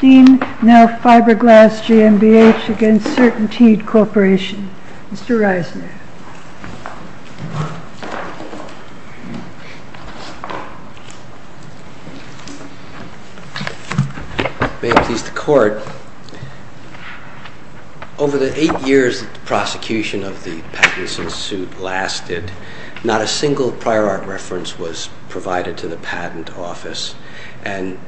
Knauf Fiber Glass GmbH v. Certainteed Corporation. Mr. Reisner. May it please the Court. Over the eight years that the prosecution of the patents in suit lasted, not a single prior art reference was provided to the patent office. And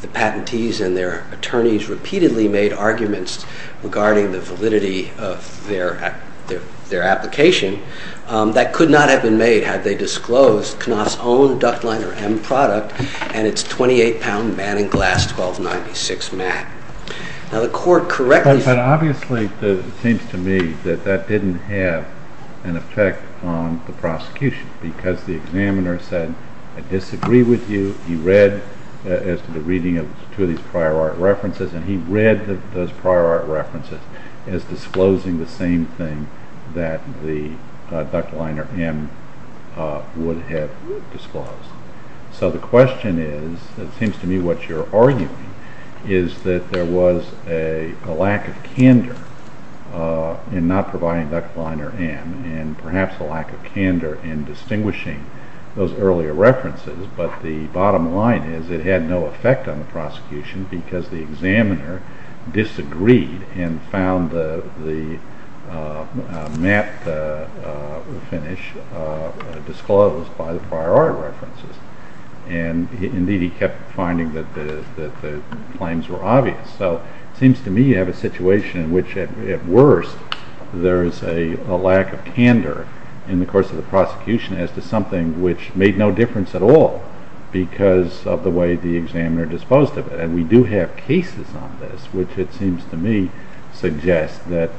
the patentees and their attorneys repeatedly made arguments regarding the validity of their application that could not have been made had they disclosed Knauf's own Ductliner M product and its 28 pound Man and Glass 1296 mat. Now the Court correctly. But obviously it seems to me that that didn't have an effect on the prosecution because the examiner said I disagree with you. He read as to the reading of two of these prior art references and he read those prior art references as disclosing the same thing that the Ductliner M would have disclosed. So the question is, it seems to me what you're arguing, is that there was a lack of candor in not providing Ductliner M and perhaps a lack of candor in distinguishing those earlier references. But the bottom line is it had no effect on the prosecution because the examiner disagreed and found the mat finish disclosed by the prior art references. And indeed he kept finding that the claims were obvious. So it seems to me you have a situation in which at worst there is a lack of candor in the course of the prosecution as to something which made no difference at all because of the way the examiner disposed of it. And we do have cases on this which it seems to me suggest that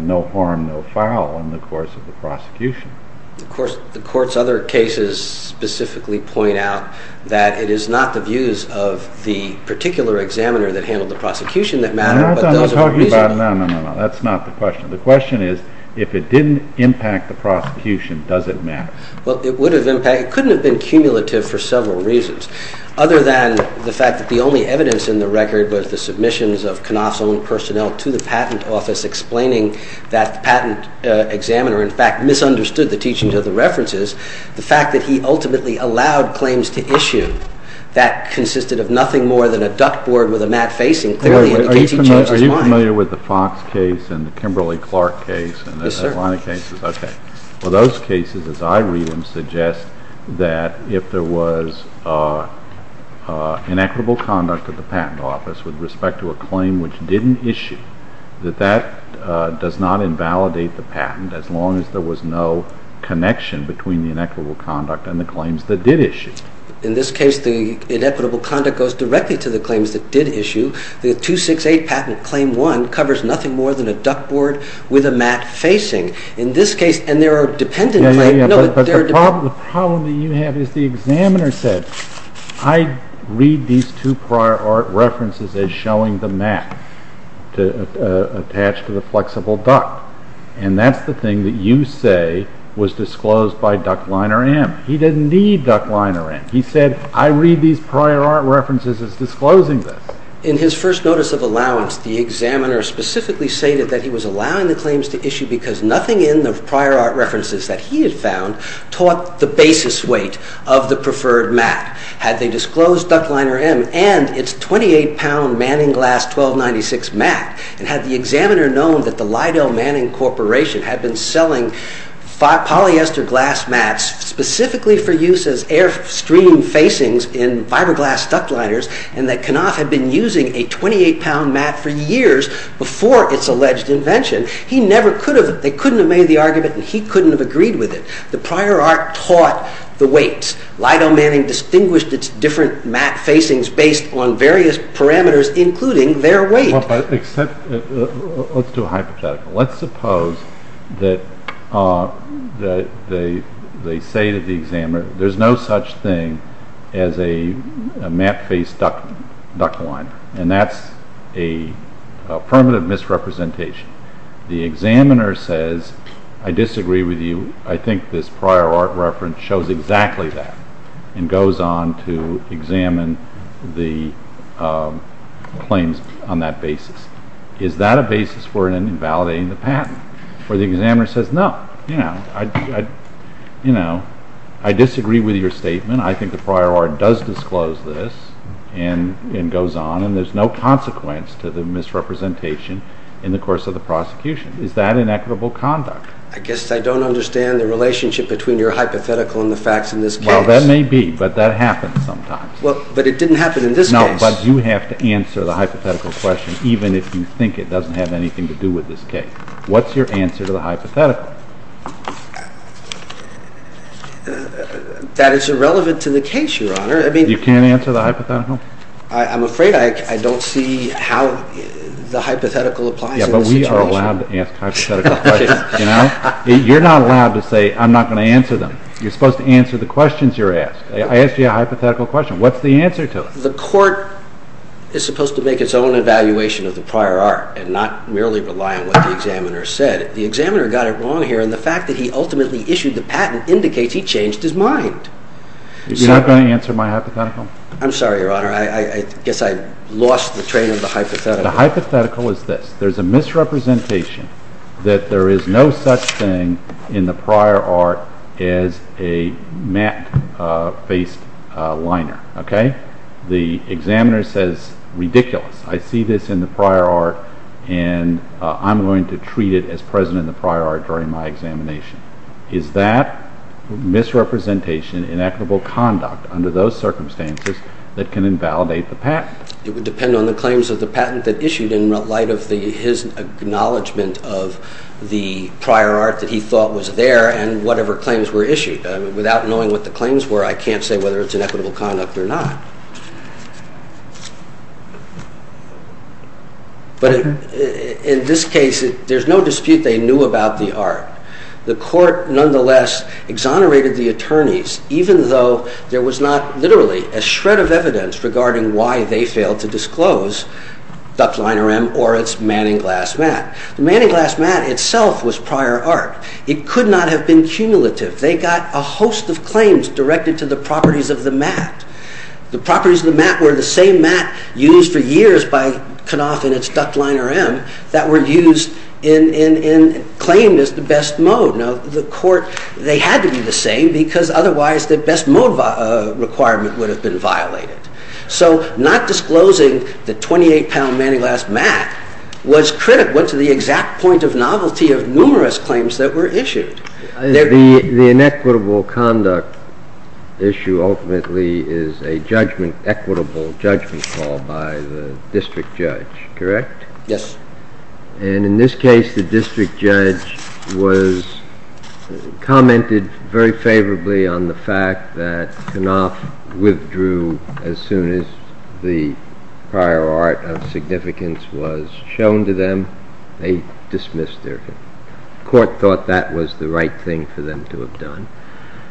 no harm, no foul in the course of the prosecution. Of course the Court's other cases specifically point out that it is not the views of the particular examiner that handled the prosecution that matter, but those of the reasoning. No, that's not what I'm talking about. No, no, no. That's not the question. The question is if it didn't impact the prosecution, does it matter? Well, it would have impacted. It couldn't have been cumulative for several reasons other than the fact that the only evidence in the record was the submissions of Knopf's own personnel to the patent office explaining that the patent examiner in fact misunderstood the teachings of the references. The fact that he ultimately allowed claims to issue that consisted of nothing more than a duct board with a matte facing clearly indicates he changed his mind. Are you familiar with the Fox case and the Kimberly-Clark case and the Adelante cases? Yes sir. Okay. Well, those cases, as I read them, suggest that if there was inequitable conduct at the patent office with respect to a claim which didn't issue, that that does not invalidate the patent as long as there was no connection between the inequitable conduct and the claims that did issue. In this case, the inequitable conduct goes directly to the claims that did issue. The 268 patent claim 1 covers nothing more than a duct board with a matte facing. In this case, and there are dependent claims... Yes, yes, yes. But the problem that you have is the examiner said, I read these two prior art references as showing the matte attached to the flexible duct. And that's the thing that you say was disclosed by Duct Liner M. He didn't need Duct Liner M. He said, I read these prior art references as disclosing this. In his first notice of allowance, the examiner specifically stated that he was allowing the prior art references that he had found taught the basis weight of the preferred matte. Had they disclosed Duct Liner M and its 28-pound Manning glass 1296 matte, and had the examiner known that the Lidell Manning Corporation had been selling polyester glass mattes specifically for use as airstream facings in fiberglass duct liners, and that Knopf had been using a 28-pound matte for years before its alleged invention, they couldn't have made the argument and he couldn't have agreed with it. The prior art taught the weights. Lidell Manning distinguished its different matte facings based on various parameters, including their weight. Let's do a hypothetical. Let's suppose that they say to the examiner, there's no such thing as a matte faced duct liner. And that's a permanent misrepresentation. The examiner says, I disagree with you. I think this prior art reference shows exactly that, and goes on to examine the claims on that basis. Is that a basis for invalidating the patent? Or the examiner says, no, I disagree with your statement. I think the prior art does disclose this, and goes on, and there's no consequence to the misrepresentation in the course of the prosecution. Is that inequitable conduct? I guess I don't understand the relationship between your hypothetical and the facts in this case. Well, that may be, but that happens sometimes. But it didn't happen in this case. No, but you have to answer the hypothetical question, even if you think it doesn't have anything to do with this case. What's your answer to the hypothetical? That is irrelevant to the case, Your Honor. You can't answer the hypothetical? I'm afraid I don't see how the hypothetical applies in this situation. Yeah, but we are allowed to ask hypothetical questions. You're not allowed to say, I'm not going to answer them. You're supposed to answer the questions you're asked. I asked you a hypothetical question. What's the answer to it? The court is supposed to make its own evaluation of the prior art, and not merely rely on what the examiner said. The examiner got it wrong here, and the fact that he ultimately issued the patent indicates he changed his mind. You're not going to answer my hypothetical? I'm sorry, Your Honor. I guess I lost the train of the hypothetical. The hypothetical is this. There's a misrepresentation that there is no such thing in the prior art as a matte-faced liner. The examiner says, ridiculous, I see this in the prior art, and I'm going to treat it as present in the prior art during my examination. Is that misrepresentation inequitable conduct under those circumstances that can invalidate the patent? It would depend on the claims of the patent that issued in light of his acknowledgement of the prior art that he thought was there and whatever claims were issued. Without knowing what the claims were, I can't say whether it's inequitable conduct or not. But in this case, there's no dispute they knew about the art. The court nonetheless exonerated the attorneys, even though there was not literally a shred of evidence regarding why they failed to disclose duct liner M or its manning glass matte. The manning glass matte itself was prior art. It could not have been cumulative. They got a host of claims directed to the properties of the matte. The properties of the matte were the same matte used for years by Knopf and its duct liner M that were used and claimed as the best mode. The court, they had to be the same because otherwise the best mode requirement would have been violated. So not disclosing the 28-pound manning glass matte was critical to the exact point of novelty of numerous claims that were issued. The inequitable conduct issue ultimately is a judgment, equitable judgment call by the district judge was commented very favorably on the fact that Knopf withdrew as soon as the prior art of significance was shown to them. They dismissed their claim. The court thought that was the right thing for them to have done.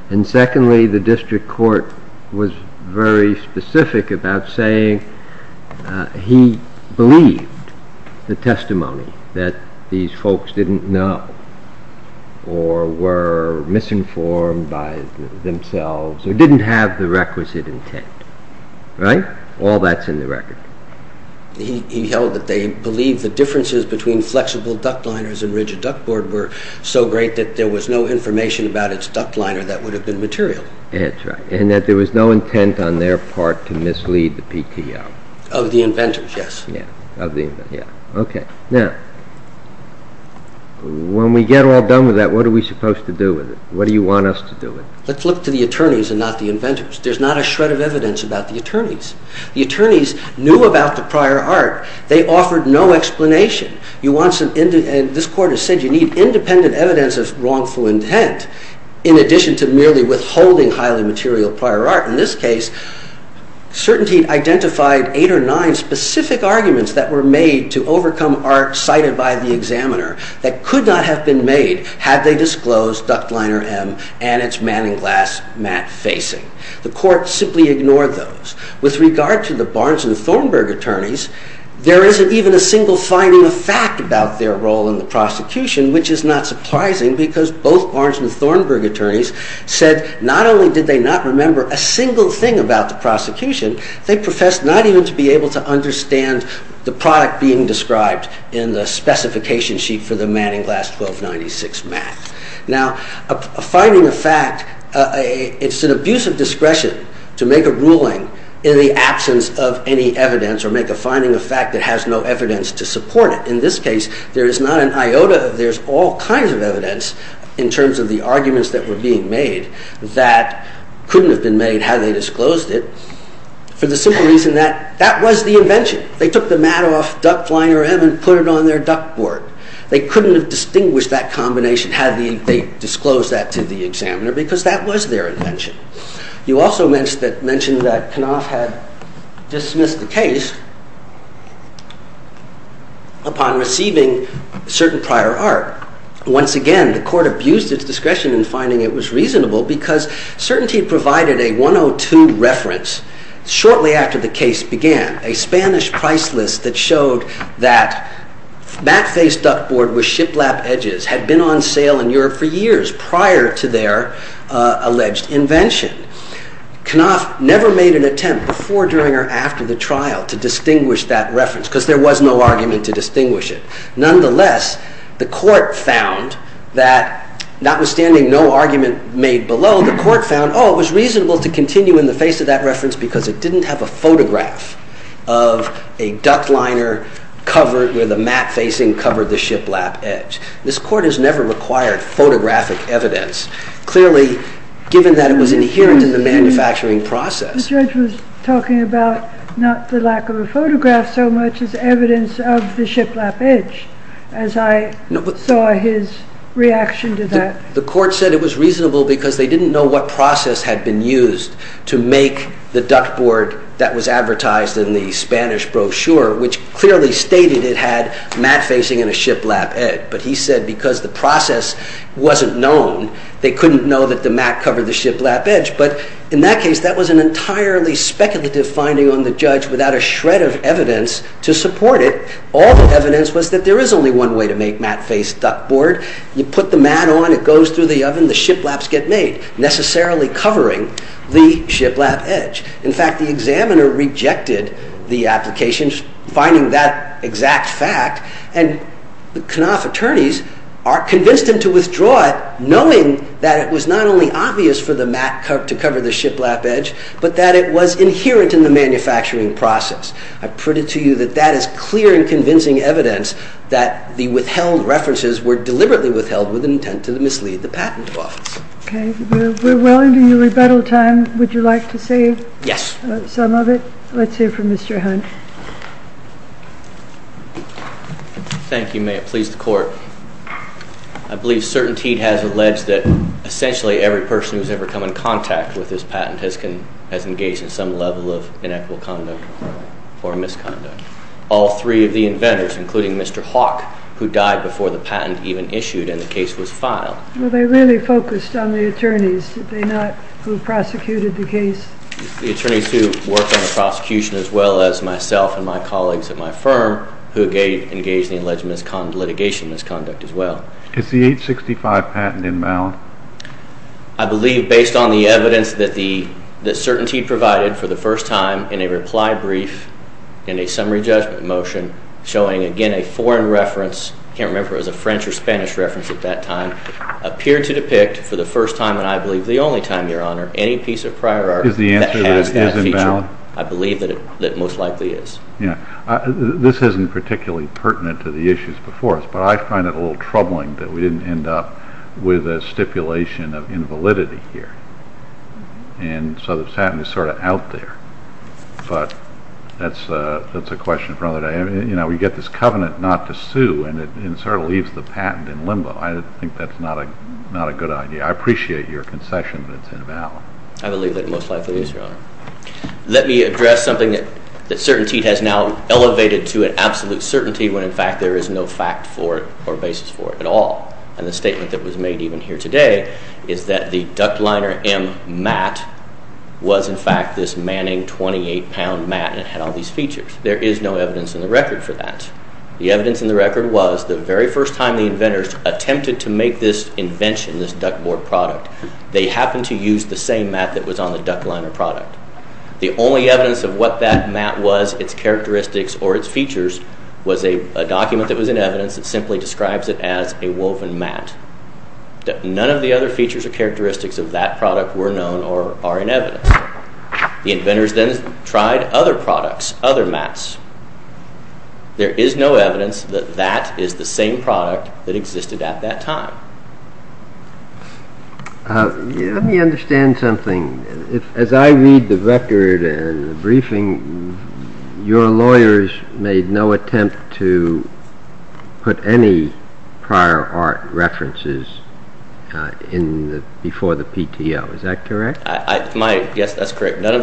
And secondly, the district court was very specific about saying he believed the testimony that these folks had made. Folks didn't know or were misinformed by themselves or didn't have the requisite intent. All that's in the record. He held that they believed the differences between flexible duct liners and rigid duct board were so great that there was no information about its duct liner that would have been material. That's right. And that there was no intent on their part to mislead the PTO. Of the inventors, yes. Okay. Now, when we get all done with that, what are we supposed to do with it? What do you want us to do with it? Let's look to the attorneys and not the inventors. There's not a shred of evidence about the attorneys. The attorneys knew about the prior art. They offered no explanation. You want some, and this court has said you need independent evidence of wrongful intent in addition to merely withholding highly material prior art. In this case, certainty identified eight or nine specific arguments that were made to overcome art cited by the examiner that could not have been made had they disclosed duct liner M and its manning glass mat facing. The court simply ignored those. With regard to the Barnes and Thornburg attorneys, there isn't even a single finding of fact about their role in the prosecution, which is not only did they not remember a single thing about the prosecution, they professed not even to be able to understand the product being described in the specification sheet for the manning glass 1296 mat. Now, a finding of fact, it's an abuse of discretion to make a ruling in the absence of any evidence or make a finding of fact that has no evidence to support it. In this case, there is not a single finding of fact that couldn't have been made had they disclosed it for the simple reason that that was the invention. They took the mat off duct liner M and put it on their duct board. They couldn't have distinguished that combination had they disclosed that to the examiner because that was their invention. You also mentioned that Knopf had dismissed the case upon receiving certain prior art. Once again, the court abused its discretion in finding it was reasonable because certainty provided a 102 reference shortly after the case began, a Spanish price list that showed that mat-faced duct board with shiplap edges had been on sale in Europe for years prior to their alleged invention. Knopf never made an attempt before, during, or after the trial to distinguish that reference because there was no argument to distinguish it. Nonetheless, the court found that notwithstanding no argument made below, the court found, oh, it was reasonable to continue in the face of that reference because it didn't have a photograph of a duct liner covered with a mat facing covered the shiplap edge. This court has never required photographic evidence. Clearly, given that it was inherent in the manufacturing process, the judge was talking about not the lack of a photograph so much as evidence of the shiplap edge as I saw his reaction to that. The court said it was reasonable because they didn't know what process had been used to make the duct board that was advertised in the Spanish brochure, which clearly stated it had mat facing and a shiplap edge. But he said because the process wasn't known, they couldn't know that the mat covered the shiplap edge. But in that case, that was an entirely speculative finding on the judge without a shred of evidence to support it. All the evidence was that there is only one way to make mat-faced duct board. You put the mat on, it goes through the oven, the shiplaps get made, necessarily covering the shiplap edge. In fact, the examiner rejected the application, finding that exact fact, and the Knopf attorneys are convinced him to withdraw it, knowing that it was not only obvious for the mat to cover the shiplap edge, but that it was inherent in the manufacturing process. I put it to you that that is clear and convincing evidence that the withheld references were deliberately withheld with intent to mislead the patent office. Okay. We're well into your rebuttal time. Would you like to say some of it? Let's hear from Mr. Hunt. Thank you. May it please the court. I believe CertainTeed has alleged that essentially every person who has ever come in contact with this patent has engaged in some level of inequitable conduct or misconduct. All three of the inventors, including Mr. Hawk, who died before the patent even issued and the case was filed. Well, they really focused on the attorneys, did they not, who prosecuted the case? The attorneys who worked on the prosecution, as well as myself and my colleagues at my firm, who engaged in alleged litigation misconduct as well. Is the 865 patent invalid? I believe, based on the evidence that CertainTeed provided for the first time in a reply brief in a summary judgment motion showing, again, a foreign reference. I can't remember if it was a French or Spanish reference at that time. Appeared to depict, for the first time and I believe the only time, your honor, any piece of prior art that has that feature. I believe that it most likely is. This isn't particularly pertinent to the issues before us, but I find it a little troubling that we didn't end up with a stipulation of invalidity here and so the patent is sort of out there, but that's a question for another day. You know, we get this covenant not to sue and it sort of leaves the patent in limbo. I think that's not a good idea. I appreciate your concession that it's invalid. I believe that it most likely is, your honor. Let me address something that CertainTeed has now elevated to an absolute certainty when, in fact, there is no fact for it or basis for it at all. And the statement that was made even here today is that the Duct Liner M mat was, in fact, this Manning 28-pound mat and it had all these features. There is no evidence in the record for that. The evidence in the record was the very first time the inventors attempted to make this invention, this duct board product, they happened to use the same mat that was on the Duct Liner product. The only evidence of what that mat was, its characteristics, or its features was a document that was in evidence that simply describes it as a woven mat. None of the other features or characteristics of that product were known or are in evidence. The inventors then tried other products, other mats. There is no evidence that that is the same product that existed at that time. Let me understand something. As I read the record and the briefing, your lawyers made no attempt to put any prior art references before the PTO. Is that correct? Yes, that's correct. None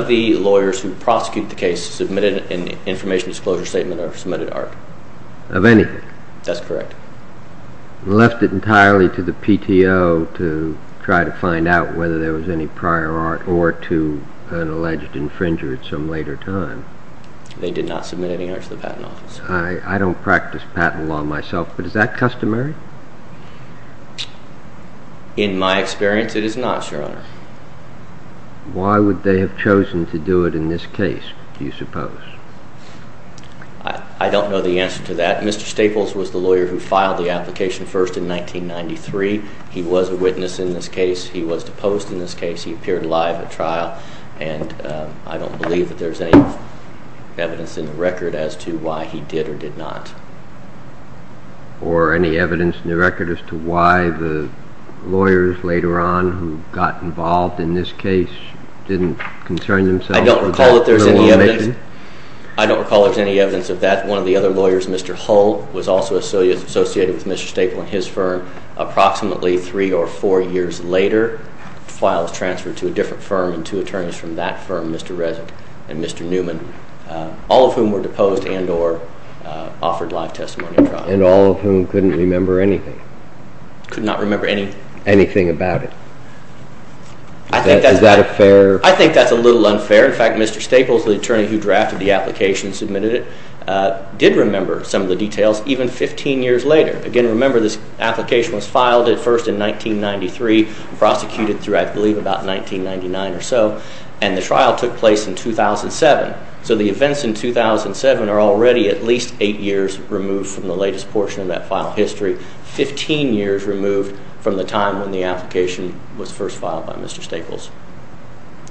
of the lawyers who prosecuted the case submitted an information disclosure statement or submitted art. Of anything? That's correct. They left it entirely to the PTO to try to find out whether there was any prior art or to an alleged infringer at some later time? They did not submit any art to the Patent Office. I don't practice patent law myself, but is that customary? In my experience, it is not, Your Honor. Why would they have chosen to do it in this case, do you suppose? I don't know the answer to that. Mr. Staples was the lawyer who filed the application first in 1993. He was a witness in this case. He was deposed in this case. He appeared live at trial, and I don't believe that there's any evidence in the record as to why he did or did not. Or any evidence in the record as to why the lawyers later on who got involved in this case didn't concern themselves with that? I don't recall that there's any evidence of that. One of the other lawyers, Mr. Hull, was also associated with Mr. Staples and his firm. Approximately three or four years later, the file was transferred to a different firm and two attorneys from that firm, Mr. Resnick and Mr. Newman, all of whom were deposed and or offered live testimony at trial. And all of whom couldn't remember anything? Could not remember anything. Anything about it? I think that's a little unfair. In fact, Mr. Staples, the attorney who drafted the application and submitted it, did remember some of the details even 15 years later. Again, remember this application was filed at first in 1993, prosecuted through, I believe, about 1999 or so, and the trial took place in 2007. So the events in 2007 are already at least eight years removed from the latest portion of that file history, 15 years removed from the time when the application was first filed by Mr. Staples.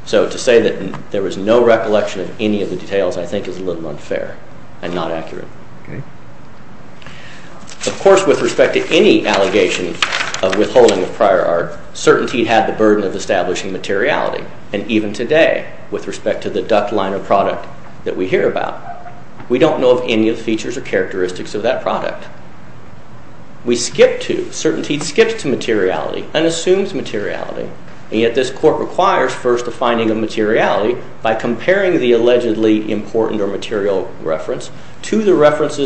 So to say that there was no recollection of any of the details I think is a little unfair and not accurate. Of course, with respect to any allegation of withholding of prior art, CertainTeed had the burden of establishing materiality. And even today, with respect to the Duck Liner product that we hear about, we don't know of any of the features or characteristics of that product. We skip to, CertainTeed skips to materiality and assumes materiality, and yet this court requires first the finding of materiality by comparing the allegedly important or references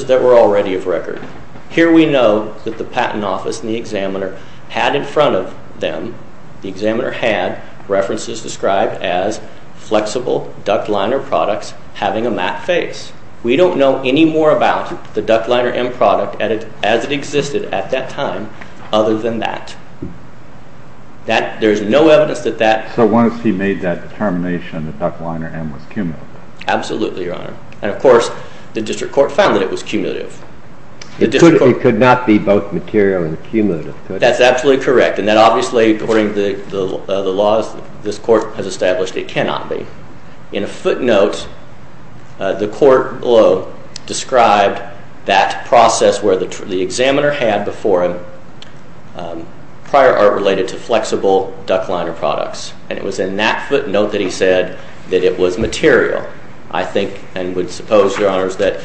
that were already of record. Here we know that the Patent Office and the examiner had in front of them, the examiner had, references described as flexible Duck Liner products having a matte face. We don't know any more about the Duck Liner M product as it existed at that time other than that. There's no evidence that that... So once he made that determination, the Duck Liner M was cumulative. Absolutely, Your Honor. And of course, the district court found that it was cumulative. It could not be both material and cumulative. That's absolutely correct. And that obviously, according to the laws this court has established, it cannot be. In a footnote, the court below described that process where the examiner had before him prior art related to flexible Duck Liner products. And it was in that footnote that he said that it was material. I think and would suppose, Your Honors, that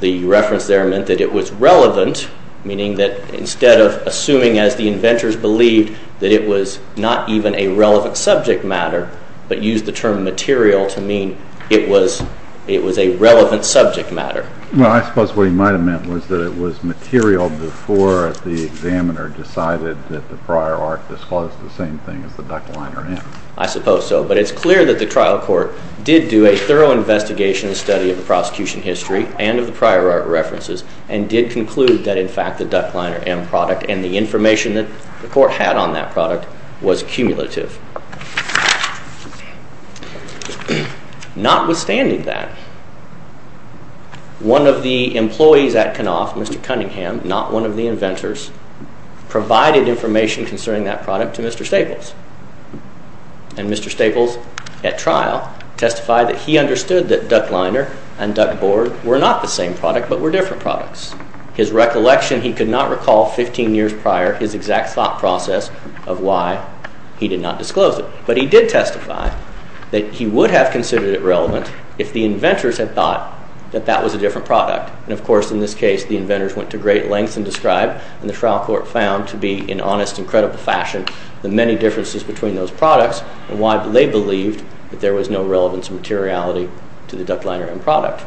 the reference there meant that it was relevant, meaning that instead of assuming as the inventors believed that it was not even a relevant subject matter, but used the term material to mean it was a relevant subject matter. Well, I suppose what he might have meant was that it was material before the examiner decided that the prior art disclosed the same thing as the Duck Liner M. I suppose so. But it's clear that the trial court did do a thorough investigation and study of the prosecution history and of the prior art references and did conclude that, in fact, the Duck Liner M product and the information that the court had on that product was cumulative. Notwithstanding that, one of the employees at Knopf, Mr. Cunningham, not one of the inventors, provided information concerning that product to Mr. Staples. And Mr. Staples, at trial, testified that he understood that Duck Liner and Duck Board were not the same product but were different products. His recollection, he could not recall 15 years prior his exact thought process of why he did not disclose it. But he did testify that he would have considered it relevant if the inventors had thought that that was a different product. And, of course, in this case, the inventors went to great lengths and the trial court found, to be in honest and credible fashion, the many differences between those products and why they believed that there was no relevance or materiality to the Duck Liner M product.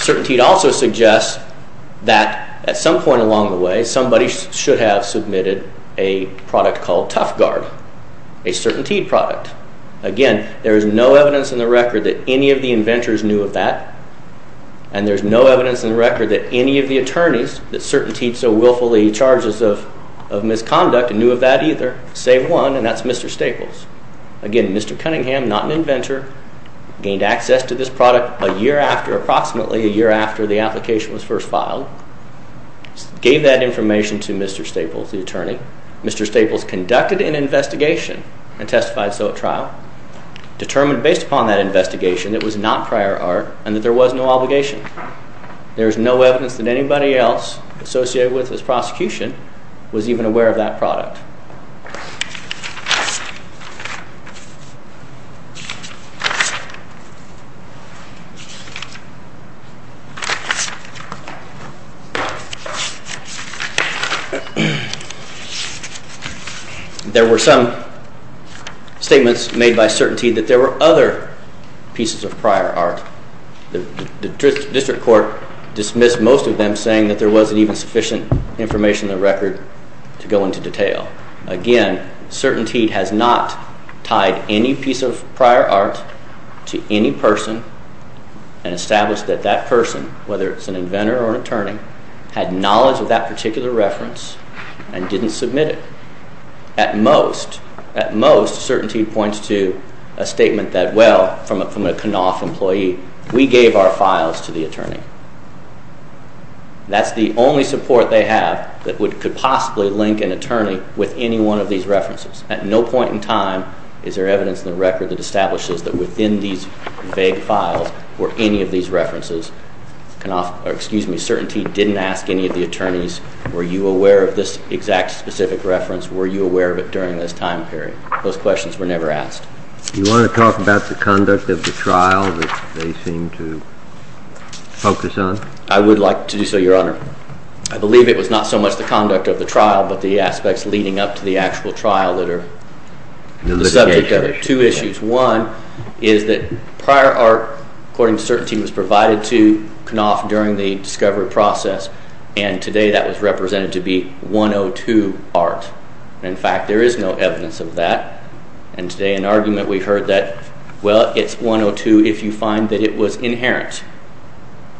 CertainTeed also suggests that, at some point along the way, somebody should have submitted a product called Tough Guard, a CertainTeed product. Again, there is no evidence in the record that any of the inventors knew of that. And there's no evidence in the record that any of the attorneys that submitted CertainTeed so willfully charges of misconduct knew of that either, save one, and that's Mr. Staples. Again, Mr. Cunningham, not an inventor, gained access to this product approximately a year after the application was first filed, gave that information to Mr. Staples, the attorney. Mr. Staples conducted an investigation and testified so at trial, determined based upon that investigation that it was not prior art and that there was no obligation. There's no evidence that anybody else associated with this prosecution was even aware of that product. There were some statements made by CertainTeed that there were other pieces of prior art. The district court dismissed most of them saying that there wasn't even sufficient information in the record to go into detail. Again, CertainTeed has not tied any piece of prior art to any person and established that that person, whether it's an inventor or an attorney, had knowledge of that particular reference and didn't submit it. At most, CertainTeed points to a statement that, well, from a Knopf employee, we gave our files to the attorney. That's the only support they have that could possibly link an attorney with any one of these references. At no point in time is there evidence in the record that establishes that within these vague files were any of these references. CertainTeed didn't ask any of the attorneys, were you aware of this exact specific reference, were you aware of it during this time period? Those questions were never asked. You want to talk about the conduct of the trial that they seem to focus on? I would like to do so, Your Honor. I believe it was not so much the conduct of the trial but the aspects leading up to the actual trial that are the subject of it. Two issues. One is that prior art, according to CertainTeed, was provided to Knopf during the discovery process and today that was represented to be 102 art. In fact, there is no evidence of that. And today an argument we heard that, well, it's 102 if you find that it was inherent.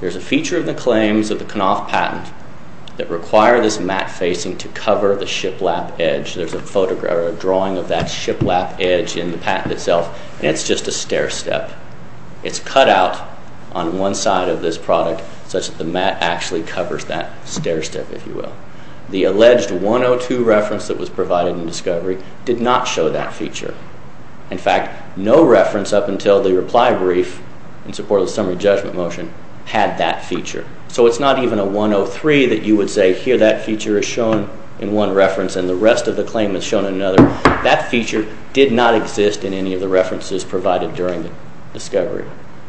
There's a feature of the claims of the Knopf patent that require this mat facing to cover the shiplap edge. There's a drawing of that shiplap edge in the patent itself and it's just a stair step. It's cut out on one side of this product such that the mat actually covers that stair step, if you will. The alleged 102 reference that was provided in discovery did not show that feature. In fact, no reference up until the reply brief in support of the summary judgment motion had that feature. So it's not even a 103 that you would say, here that feature is shown in one reference and the rest of the claim is shown in another. That feature did not exist in any of the references provided during the discovery.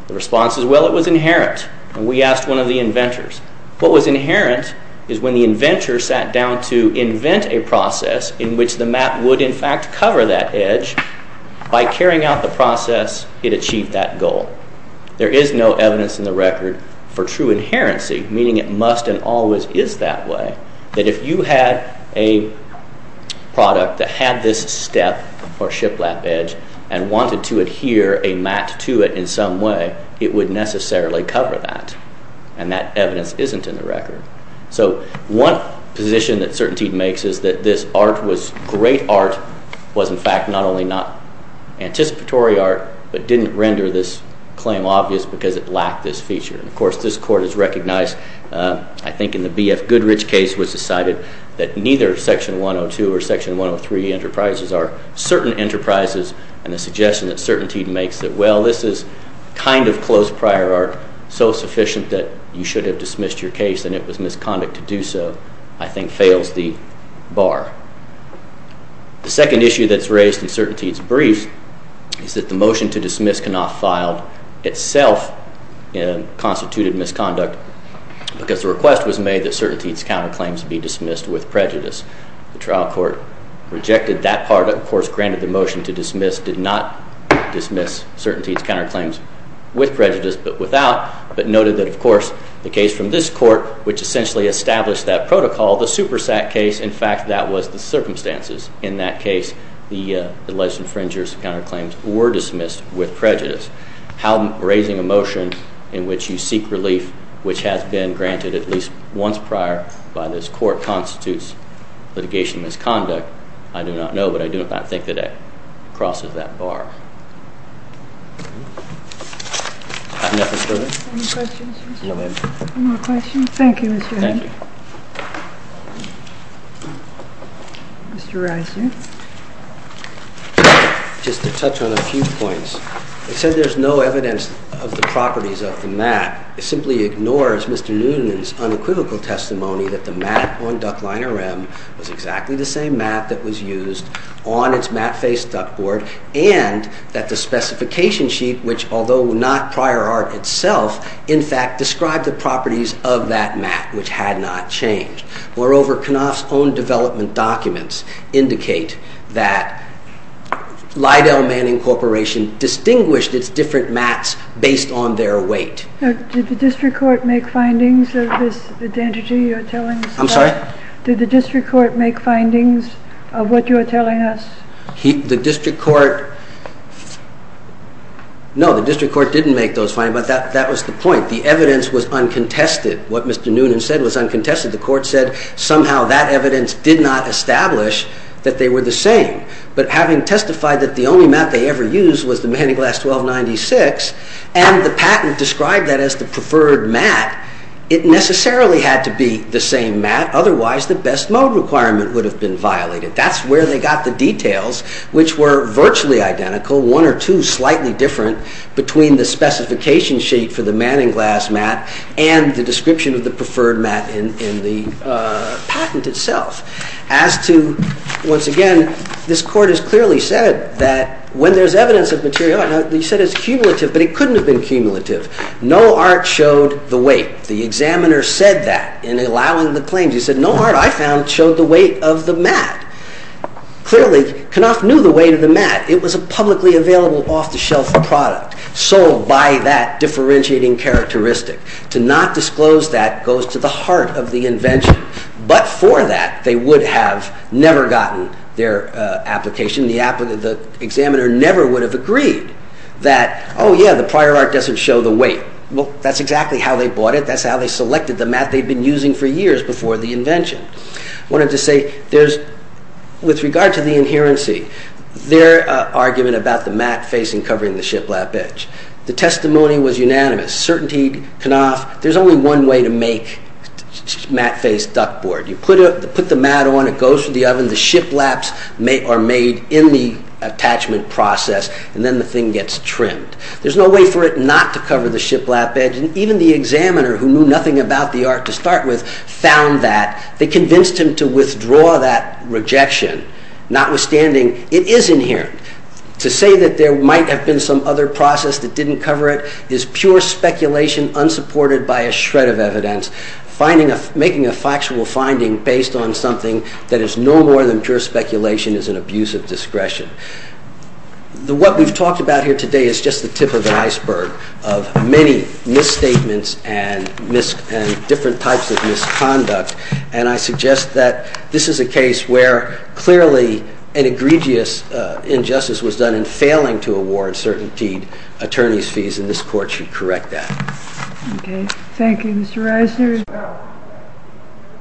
The response is, well, it was inherent. And we asked one of the inventors. What was inherent is when the inventor sat down to invent a process in which the mat would, in fact, cover that edge, by carrying out the process, it achieved that goal. There is no evidence in the record for true inherency, meaning it must and always is that way, that if you had a product that had this step or shiplap edge and wanted to adhere a mat to it in some way, it would necessarily cover that. And that evidence isn't in the record. So one position that CertainTeed makes is that this art was great art, was, in fact, not only not anticipatory art, but didn't render this claim obvious because it lacked this feature. And, of course, this court has recognized, I think in the B.F. Goodrich case, was decided that neither Section 102 or Section 103 enterprises are certain enterprises. And the suggestion that CertainTeed makes that, well, this is kind of close prior art, so sufficient that you should have dismissed your case and it was misconduct to do so, I think fails the bar. The second issue that's raised in CertainTeed's brief is that the motion to dismiss Knopf filed itself constituted misconduct because the request was made that CertainTeed's counterclaims be dismissed with prejudice. The trial court rejected that part, of course granted the motion to dismiss, did not dismiss CertainTeed's counterclaims with prejudice but without, but noted that, of course, the case from this court, which essentially established that protocol, the Supersat case, in fact, that was the circumstances. In that case, the alleged infringers' counterclaims were dismissed with prejudice. How raising a motion in which you seek relief, which has been granted at least once prior by this court, constitutes litigation misconduct, I do not know, but I do not think that that crosses that bar. Any other questions? No, ma'am. No more questions? Thank you, Mr. Hunt. Thank you. Mr. Reiser. Just to touch on a few points. It says there's no evidence of the properties of the mat. It simply ignores Mr. Newton's unequivocal testimony that the mat on Duck Liner M was exactly the same mat that was used on its mat-faced duck board and that the mat on Duck Liner M that the specification sheet, which although not prior art itself, in fact, described the properties of that mat, which had not changed. Moreover, Knopf's own development documents indicate that Lidell Manning Corporation distinguished its different mats based on their weight. Did the district court make findings of this identity you're telling us about? I'm sorry? Did the district court make findings of what you're telling us? The district court, no, the district court didn't make those findings, but that was the point. The evidence was uncontested. What Mr. Newton said was uncontested. The court said somehow that evidence did not establish that they were the same. But having testified that the only mat they ever used was the Mahoney Glass 1296 and the patent described that as the preferred mat, it necessarily had to be the same mat. Otherwise, the best mode requirement would have been violated. That's where they got the details, which were virtually identical, one or two slightly different, between the specification sheet for the Manning Glass mat and the description of the preferred mat in the patent itself. As to, once again, this court has clearly said that when there's evidence of material, you said it's cumulative, but it couldn't have been cumulative. No art showed the weight. The examiner said that in allowing the claims. He said, no art I found showed the weight of the mat. Clearly, Knopf knew the weight of the mat. It was a publicly available, off-the-shelf product, sold by that differentiating characteristic. To not disclose that goes to the heart of the invention. But for that, they would have never gotten their application. The examiner never would have agreed that, oh, yeah, the prior art doesn't show the weight. Well, that's exactly how they bought it. That's how they selected the mat they'd been using for years before the invention. I wanted to say, with regard to the inherency, their argument about the mat facing covering the shiplap edge, the testimony was unanimous. Certainty, Knopf, there's only one way to make mat-faced duckboard. You put the mat on, it goes through the oven, the shiplaps are made in the attachment process, and then the thing gets trimmed. There's no way for it not to cover the shiplap edge, and even the examiner, who knew nothing about the art to start with, found that. They convinced him to withdraw that rejection. Notwithstanding, it is inherent. To say that there might have been some other process that didn't cover it is pure speculation unsupported by a shred of evidence. Making a factual finding based on something that is no more than pure speculation is an abuse of discretion. What we've talked about here today is just the tip of the stick of misstatements and different types of misconduct, and I suggest that this is a case where clearly an egregious injustice was done in failing to award certainty attorney's fees, and this court should correct that. Okay. Thank you, Mr. Reisner.